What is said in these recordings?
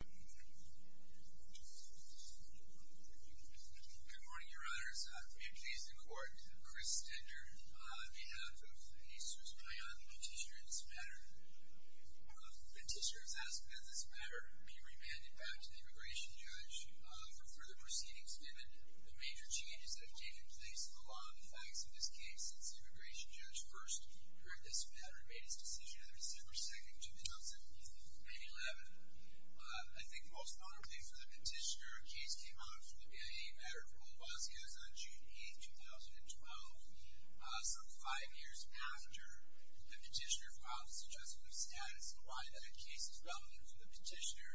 Good morning, Your Honors. I am pleased to report Chris Stender on behalf of the Easterseers Payan petitioner in this matter. The petitioner has asked that this matter be remanded back to the immigration judge for further proceedings, given the major changes that have taken place in the law and the facts of this case since the immigration judge first heard this matter and made his decision in December 2nd, 2011. I think most notably for the petitioner, a case came out for the BIA matter of Olavasquez on June 8th, 2012, some five years after the petitioner filed his Adjustment of Status, and why that case is relevant to the petitioner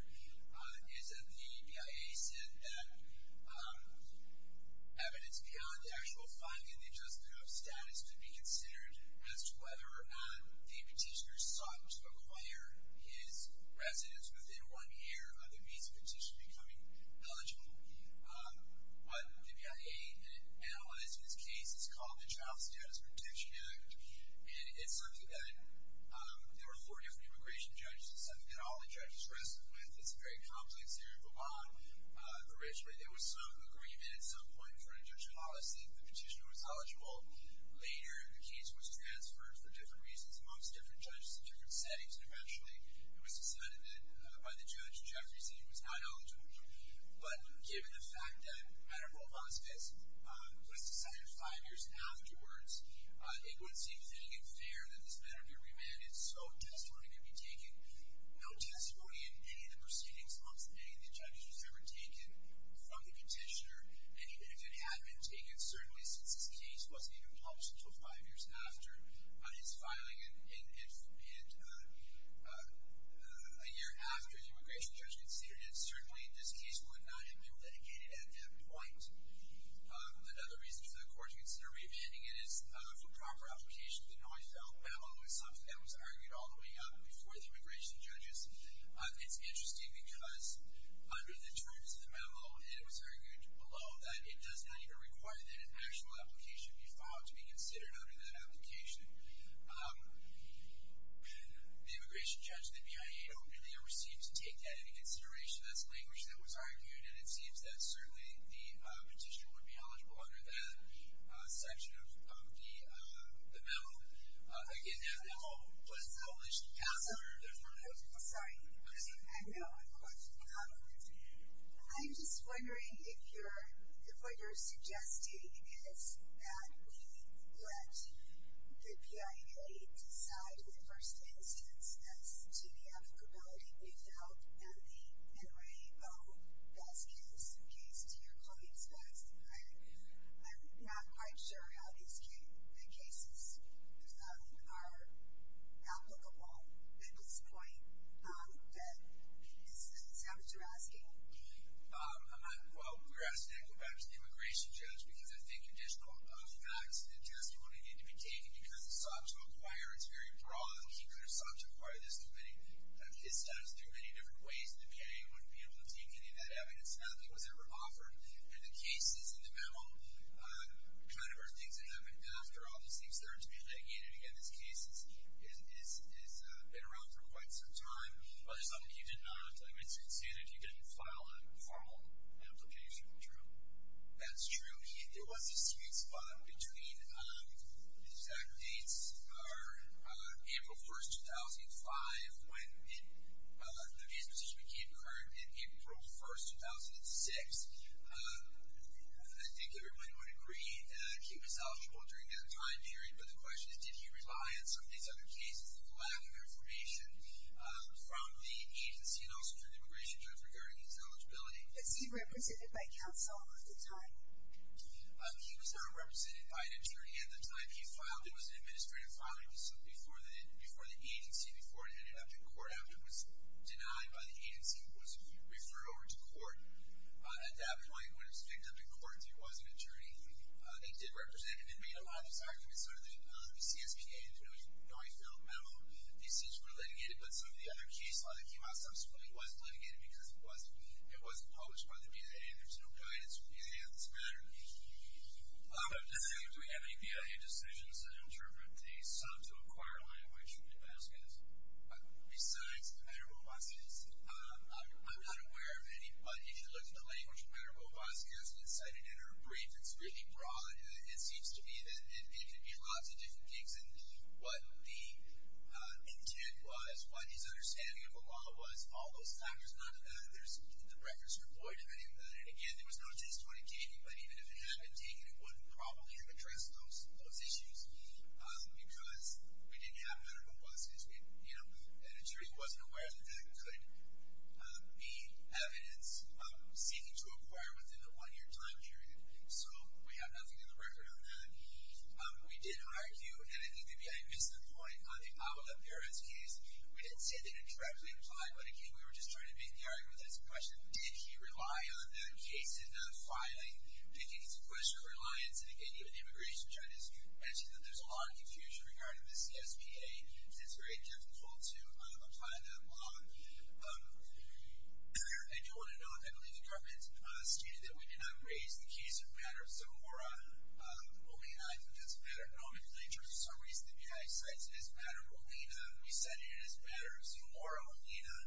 is that the BIA said that evidence beyond the actual finding in the Adjustment of Status could be considered as to whether the petitioner sought to acquire his residence within one year of the visa petitioner becoming eligible. What the BIA analyzed in this case is called the Child Status Protection Act, and it's something that there were four different immigration judges. It's something that all the judges wrestled with. It's a very complex area of a bond for which there was some agreement at some point in front of Judge Hollis that the petitioner was eligible. Later, the case was transferred for different reasons amongst different judges in different settings, and eventually it was decided that by the judge Jeffrey's decision was not eligible. But given the fact that the matter of Olavasquez was decided five years afterwards, it would seem fitting and fair that this matter be remanded, so testimony could be taken. No testimony in any of the proceedings amongst any of the judges was ever taken from the petitioner. And even if it had been taken, certainly since this case wasn't even published until five years after his filing and a year after the immigration judge considered it, certainly this case would not have been litigated at that point. Another reason for the Court to consider remanding it is for proper application of the Noifelt Memo, which is something that was argued all the way up before the immigration judges. It's interesting because under the terms of the memo, it was argued below that it does not even require that an actual application be filed to be considered under that application. The immigration judge, the BIA, don't really ever seem to take that into consideration. That's language that was argued, and it seems that certainly the petitioner would be eligible under that section of the memo. Again, that memo wasn't published. Councilor, go ahead. I'm sorry. I know. I'm watching the comments. I'm just wondering if what you're suggesting is that we let the BIA decide in the first instance as to the applicability of the Noifelt and the Enrique O. Baskin's case to your colleagues. I'm not quite sure how these cases are applicable at this point. Is this what you're asking? Well, we're asking that to go back to the immigration judge, because I think additional facts and testimony need to be taken because the subject matter is very broad, and keeping it a subject matter, it steps through many different ways, and the BIA wouldn't be able to take any of that evidence. None of it was ever offered. And the cases in the memo kind of are things that have been after all these things. They're to be taken. And, again, this case has been around for quite some time. But it's something you did not, like I said, say that you didn't file a formal application. True. That's true. There was a sweet spot between exact dates, April 1, 2005, when the BIA's position became current, and April 1, 2006. I think everybody would agree that he was eligible during that time period, but the question is did he rely on some of these other cases for the lack of information from the agency and also from the immigration judge regarding his eligibility? Was he represented by counsel at the time? He was represented by an attorney at the time he filed. It was an administrative filing before the agency, before it ended up in court, after it was denied by the agency and was referred over to court. At that point, when it was picked up in court, there was an attorney. They did represent him and made a lot of his arguments under the LBCSPA, and it was a knowingly-filled memo. These things were litigated, but some of the other cases that came out subsequently wasn't litigated because it wasn't published by the BIA, and there's no guidance from the BIA on this matter. Do we have any BIA decisions in terms of the sum to acquire Miami-Hawaii-Shulman-Vazquez? Besides the matter of Obasca, I'm not aware of any, but if you look at the language of the matter of Obasca as an incitement or a brief, it's really broad. It seems to me that it could be lots of different gigs, and what the intent was, what his understanding of Obala was, all those factors, none of that. The records were void of any of that. Again, there was no case toward it taking, but even if it had been taken, it wouldn't probably have addressed those issues because we didn't have a matter of Obasca. The editorial wasn't aware that that could be evidence seeking to acquire within the one-year time period, so we have nothing in the record on that. We did argue, and I think the BIA missed the point, on the Obala-Perez case, we didn't say that it directly applied, but, again, we were just trying to make the argument that it's a question, did he rely on that case in filing, did he need some question of reliance, and, again, even immigration judges mentioned that there's a lot of confusion regarding the CSPA, and it's very difficult to apply that law. And you'll want to know, I believe the government stated that we did not raise the case of the matter of Zamora. Olena, I think that's better. I don't know if in terms of summaries, the BIA cites it as matter. Olena, we said it as matters. Zamora, Olena,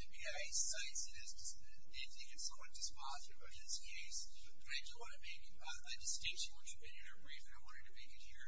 the BIA cites it as, they think it's somewhat dysfunctional in this case. Do I just want to make a distinction? Once you've been in our briefing, I wanted to make it your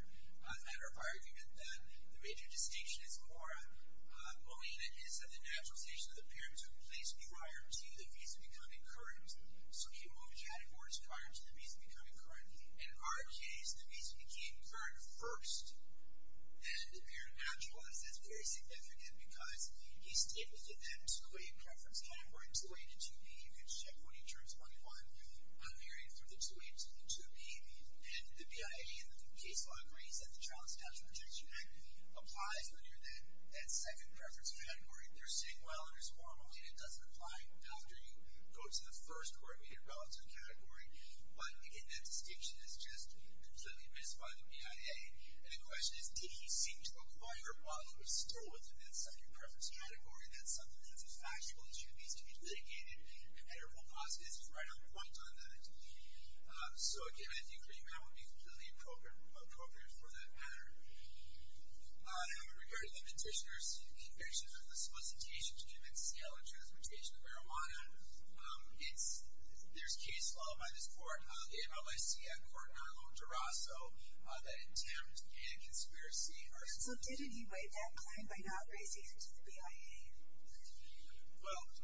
matter of argument that the major distinction is more, Olena, is that the naturalization of the pyramids were in place prior to the visa becoming current. So he moved categories prior to the visa becoming current. In our case, the visa became current first, and the pyramid naturalized. That's very significant because he stated that that 2A preference category, 2A to 2B, you can check when he turns 21, I'm hearing for the 2A to the 2B, and the BIA in the case law agrees that the Child Statute Protection Act applies when you're in that second preference category. They're saying, well, it is formally, and it doesn't apply after you go to the first or immediate relative category. But, again, that distinction is just completely missed by the BIA. And the question is, did he seem to acquire while he was still within that second preference category? That's something that's a factual issue. It needs to be litigated. And Errol Gossett is right on point on that. So, again, I think that would be completely appropriate for that matter. In regard to the petitioner's conviction on the solicitation to commit sale and transportation of marijuana, there's case law by this court, the MLIC at court, and I don't know if DeRosso, that attempt and conspiracy. So didn't he waive that claim by not raising it to the BIA? Well. I mean, it's troubling because I think if he had waived it, I don't think the crime was actually one of the CIMG, but I think it seems waived. But there are two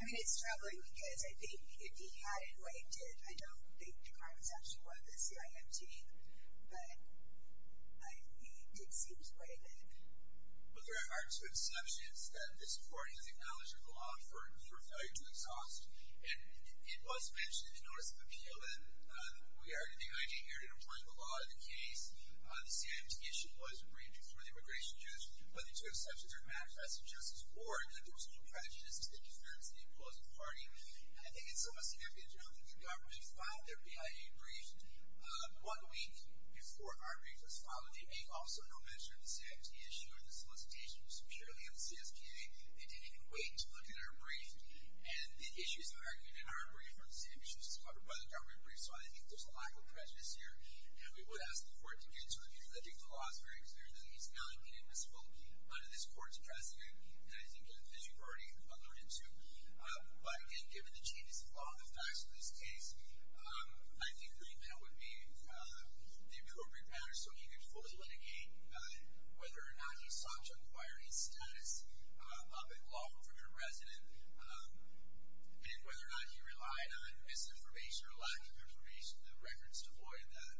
exceptions that this court has acknowledged are the law for failure to exhaust. And it was mentioned in the notice of appeal that we argue the BIA inherited a point of the law in the case. The CIMG issue was agreed before the immigration judge, but the two exceptions are manifested just as war. Again, there was no prejudice as to the interference of the opposing party. And I think it's a miscarriage. I don't think the government filed their BIA agreement. One week before our brief was filed, they made also no mention of the CIMG issue or the solicitation was securely on the CSPA. They didn't even wait to look at our brief. And the issues argued in our brief are the same issues covered by the government brief. So I think there's a lack of prejudice here. And we would ask the court to get to a new legitimate clause, very clearly, that he's validating this will under this court's precedent. And I think that you've already buggered into. But again, given the changes in law and the facts of this case, I think the agreement would be the appropriate manner so he could fully litigate whether or not he sought to acquire his status up in law from a resident and whether or not he relied on misinformation or lack of information. The record's devoid of that.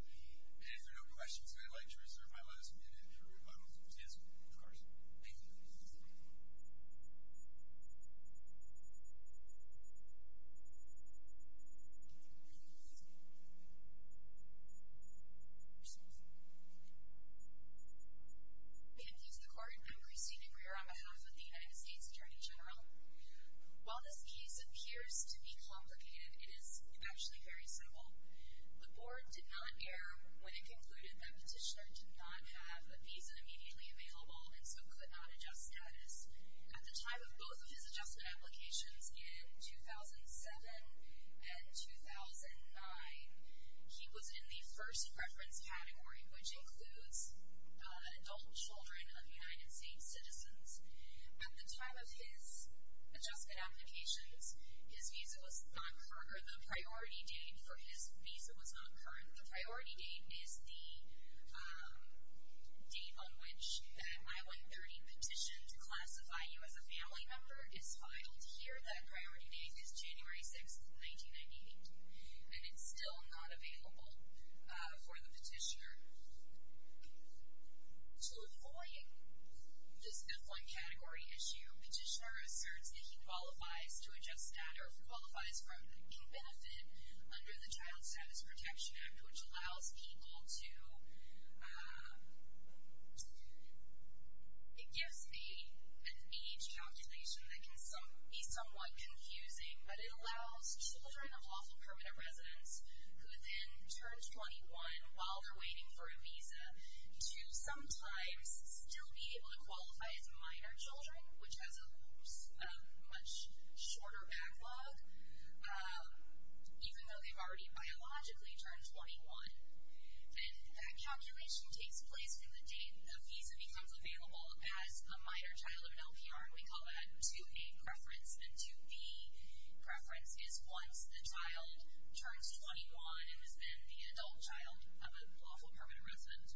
And if there are no questions, I'd like to reserve my last minute for counsel. Thank you. Thank you. Thank you to the court. I'm Christine Aguirre on behalf of the United States Attorney General. While this case appears to be complicated, it is actually very simple. The board did not err when it concluded that Petitioner did not have a visa immediately available and so could not adjust status. At the time of both of his adjustment applications in 2007 and 2009, he was in the first reference category, which includes adult children of United States citizens. At the time of his adjustment applications, his visa was not current or the priority date for his visa was not current. The priority date is the date on which that MI-130 petition to classify you as a family member is filed here. That priority date is January 6, 1998. And it's still not available for the Petitioner. To avoid this different category issue, Petitioner asserts that he qualifies to adjust that or qualifies from and benefit under the Child Status Protection Act, which allows people to, it gives an age calculation that can be somewhat confusing, but it allows children of lawful permanent residents who then turn 21 while they're waiting for a visa to sometimes still be able to qualify as minor children, which has a much shorter backlog, even though they've already biologically turned 21. And that calculation takes place when the date the visa becomes available as a minor child of an LPR, and we call that 2A preference. The 2B preference is once the child turns 21 and has been the adult child of a lawful permanent resident.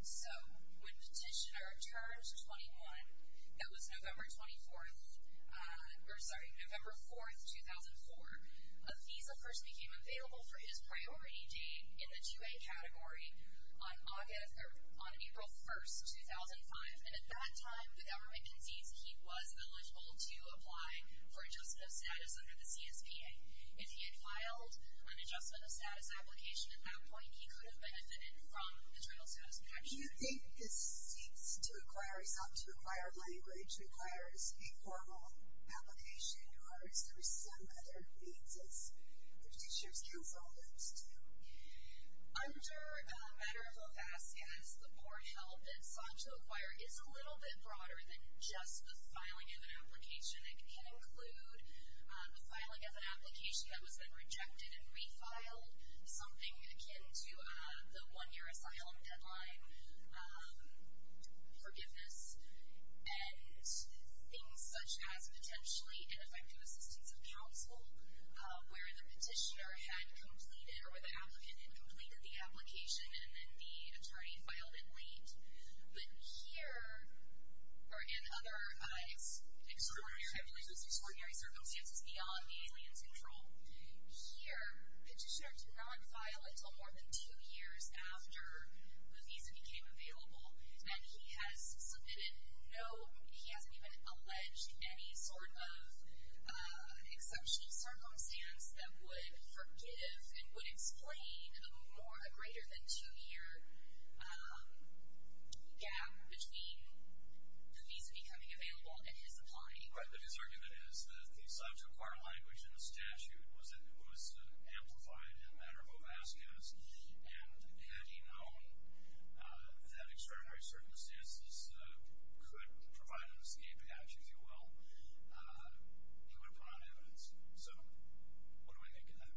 So when Petitioner turned 21, that was November 24th, or sorry, November 4th, 2004, a visa first became available for his priority date in the 2A category on April 1st, 2005. And at that time, the government concedes he was eligible to apply for Adjustment of Status under the CSPA. If he had filed an Adjustment of Status application at that point, he could have benefited from the Child Status Protection Act. Do you think this seeks to require SOTC to require language, requires a formal application, or is there some other means that Petitioners can refer folks to? Under a matter of a FASCAS, the port held that SOTC to acquire is a little bit broader than just the filing of an application. It can include the filing of an application that has been rejected and refiled, something akin to the one-year asylum deadline, forgiveness, and things such as potentially ineffective assistance of counsel, where the Petitioner had completed, or the applicant had completed the application and then the attorney filed it late. But here, or in other extraordinary circumstances beyond the alien's control, here Petitioners do not file until more than two years after the visa became available, and he has submitted no, he hasn't even alleged any sort of exceptional circumstance that would forgive and would explain a more, a greater than two-year gap between the visa becoming available and his applying. But his argument is that the SOTC to require language in the statute was amplified in a matter of a FASCAS, and had he known that extraordinary circumstances could provide an escape hatch, if you will, he would have put on evidence. So what do I think of that?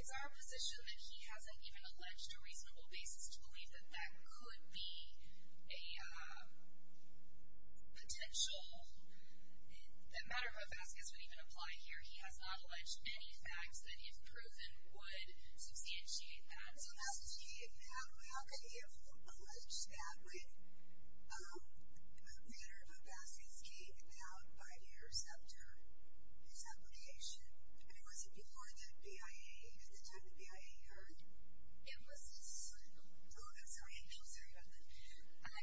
It's our position that he hasn't even alleged a reasonable basis to believe that that could be a potential, that matter of a FASCAS would even apply here. He has not alleged any facts that he has proven would substantiate that. So how could he have alleged that when a matter of a FASCAS came about five years after his application, and it wasn't before the BIA, it was just sort of proven, so he knows very well.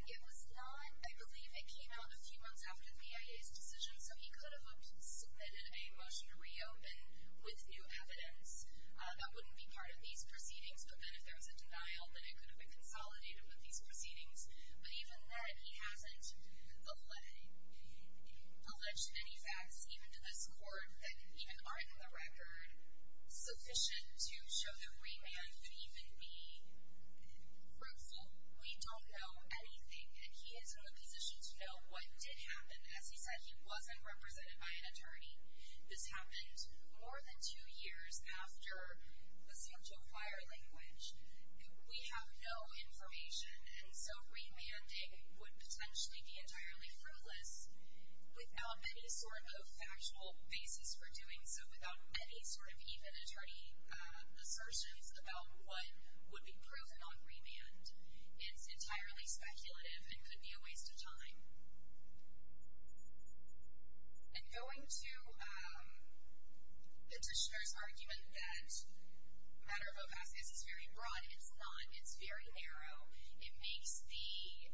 It was not, I believe it came out a few months after the BIA's decision, so he could have submitted a motion to reopen with new evidence. That wouldn't be part of these proceedings, but then if there was a denial, then it could have been consolidated with these proceedings. But even then, he hasn't alleged any facts, even to this court, that even aren't in the record sufficient to show that remand could even be fruitful. We don't know anything, and he is in a position to know what did happen. As he said, he wasn't represented by an attorney. This happened more than two years after the San Joaquir language. We have no information, and so remanding would potentially be entirely fruitless without any sort of factual basis for doing so, without any sort of even attorney assertions about what would be proven on remand. It's entirely speculative and could be a waste of time. And going to the Dishonor's argument that a matter of a FASCAS is very broad, it's not, it's very narrow, it makes the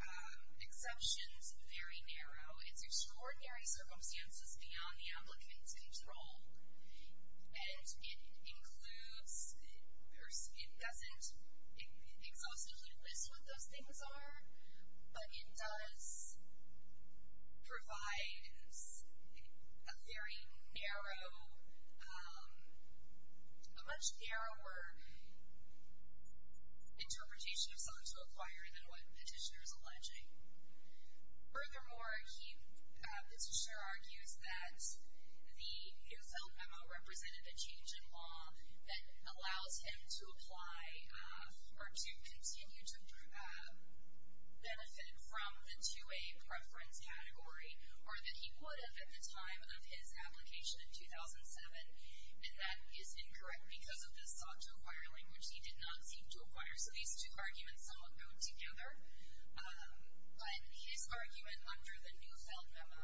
exceptions very narrow. It's extraordinary circumstances beyond the ombligate's control, and it includes, it doesn't, it's also clueless what those things are, but it does provide a very narrow, a much narrower interpretation of San Joaquir than what the Dishonor is alleging. Furthermore, he, the Dishonor argues that the Newfound M.O. represented a change in law that allows him to apply, or to continue to benefit from the 2A preference category, or that he would have at the time of his application in 2007, and that is incorrect because of the San Joaquir language he did not seek to acquire, so these two arguments somewhat go together. But his argument under the Newfound M.O.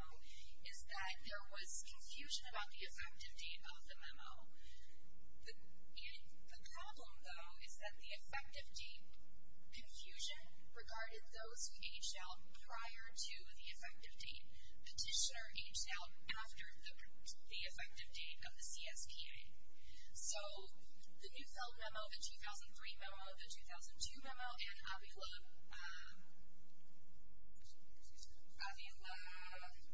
is that there was confusion about the effectiveness of the M.O. And the problem, though, is that the effective date, confusion regarding those who aged out prior to the effective date, Petitioner aged out after the effective date of the CSTA. So the Newfound M.O., the 2003 M.O., the 2002 M.O., and Avila, Avila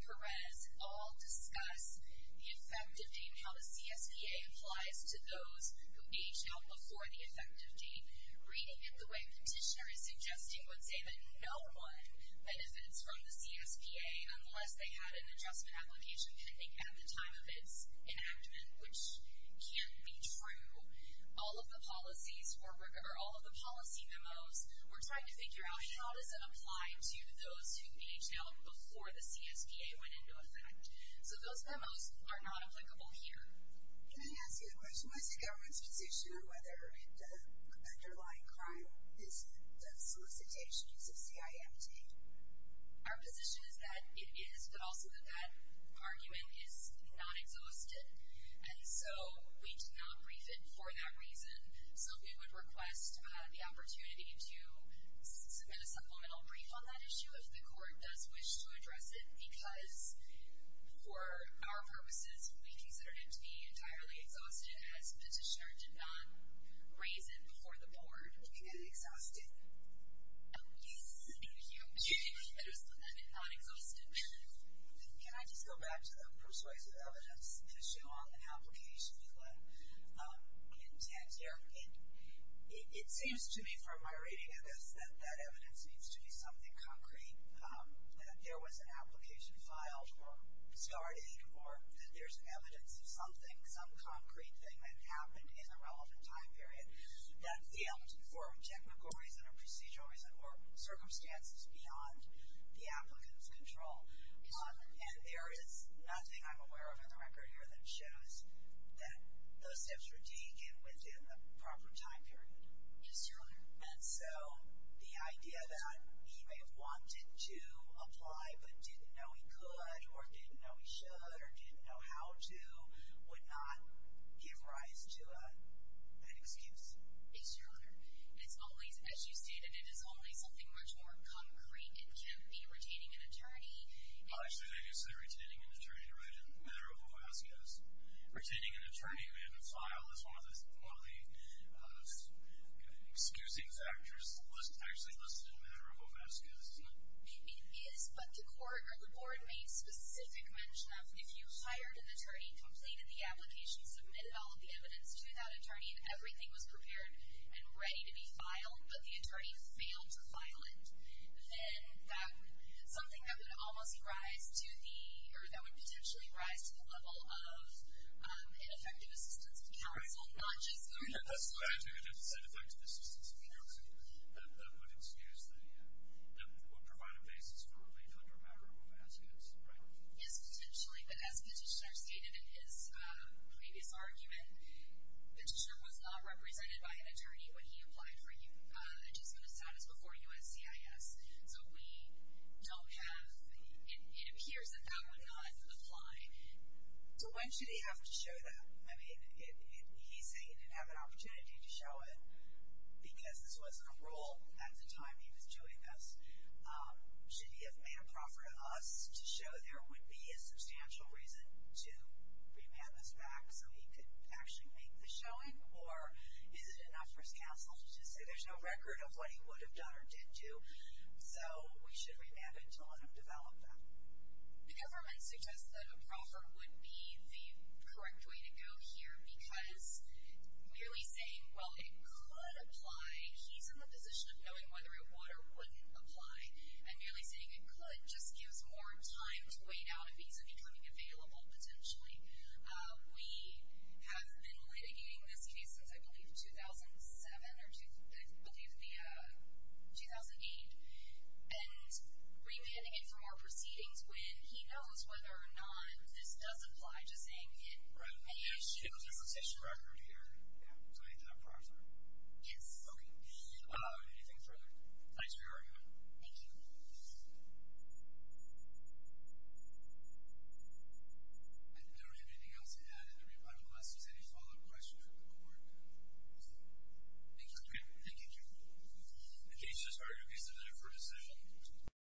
Perez all discuss the effective date and how the CSTA applies to those who aged out before the effective date, reading it the way Petitioner is suggesting would say that no one benefits from the CSTA unless they had an adjustment application pending at the time of its enactment, which can't be true. All of the policies, or all of the policy M.O.s, we're trying to figure out, how does it apply to those who aged out before the CSTA went into effect? So those M.O.s are not applicable here. Can I ask you a question? What's the government's position on whether an underlying crime is solicitation, is a CIMT? Our position is that it is, but also that that argument is not exhausted, and so we do not brief it for that reason. So we would request the opportunity to submit a supplemental brief on that issue if the court does wish to address it, because for our purposes, we consider it to be entirely exhausted, as Petitioner did not raise it before the board. Did you get it exhausted? Yes. Thank you. It was not exhausted. Can I just go back to the persuasive evidence issue on an application, because it seems to me from my reading of this that that evidence seems to be something concrete, that there was an application filed or discarded, or that there's evidence of something, some concrete thing that happened in a relevant time period, that failed for technical reasons or procedural reasons or circumstances beyond the applicant's control. And there is nothing I'm aware of in the record here that shows that those steps were taken within the proper time period. Just earlier. And so the idea that he may have wanted to apply but didn't know he could or didn't know he should or didn't know how to would not give rise to an excuse. Yes, Your Honor. It's always, as you stated, it is always something much more concrete. It can be retaining an attorney. Actually, they do say retaining an attorney right in the matter of Homascus. Retaining an attorney in a file is one of the excusing factors actually listed in the matter of Homascus, isn't it? It is, but the court or the board made specific mention of if you hired an attorney, completed the application, submitted all of the evidence to that attorney, and everything was prepared and ready to be filed, but the attorney failed to file it, then that's something that would almost rise to the, or that would potentially rise to the level of an effective assistance of counsel, not just your counsel. That's right. An effective assistance of counsel. That would excuse the, that would provide a basis for relief under the matter of Homascus, right? Yes, potentially. But as Petitioner stated in his previous argument, Petitioner was not represented by an attorney when he applied for adjustment of status before USCIS. So we don't have, it appears that that would not apply. So when should he have to show that? I mean, he's saying he'd have an opportunity to show it because this wasn't a rule at the time he was doing this. Should he have made a proffer to us to show there would be a substantial reason to remand this back so he could actually make the showing? Or is it enough for his counsel to just say there's no record of what he would have done or didn't do, so we should remand it to let him develop that? The government suggests that a proffer would be the correct way to go here because merely saying, well, it could apply, he's in the position of knowing whether it would or wouldn't apply, and merely saying it could just gives more time to wait out if he's becoming available, potentially. We have been litigating this case since, I believe, 2007 or 2008, and remanding it from our proceedings when he knows whether or not this does apply to saying it. Right. Because there's a petition record here. So he'd have a proffer. Yes. Okay. Anything further? Thanks for your argument. Thank you. I don't have anything else to add unless there's any follow-up questions from the board. Thank you. Thank you. The case is ready to be submitted for decision.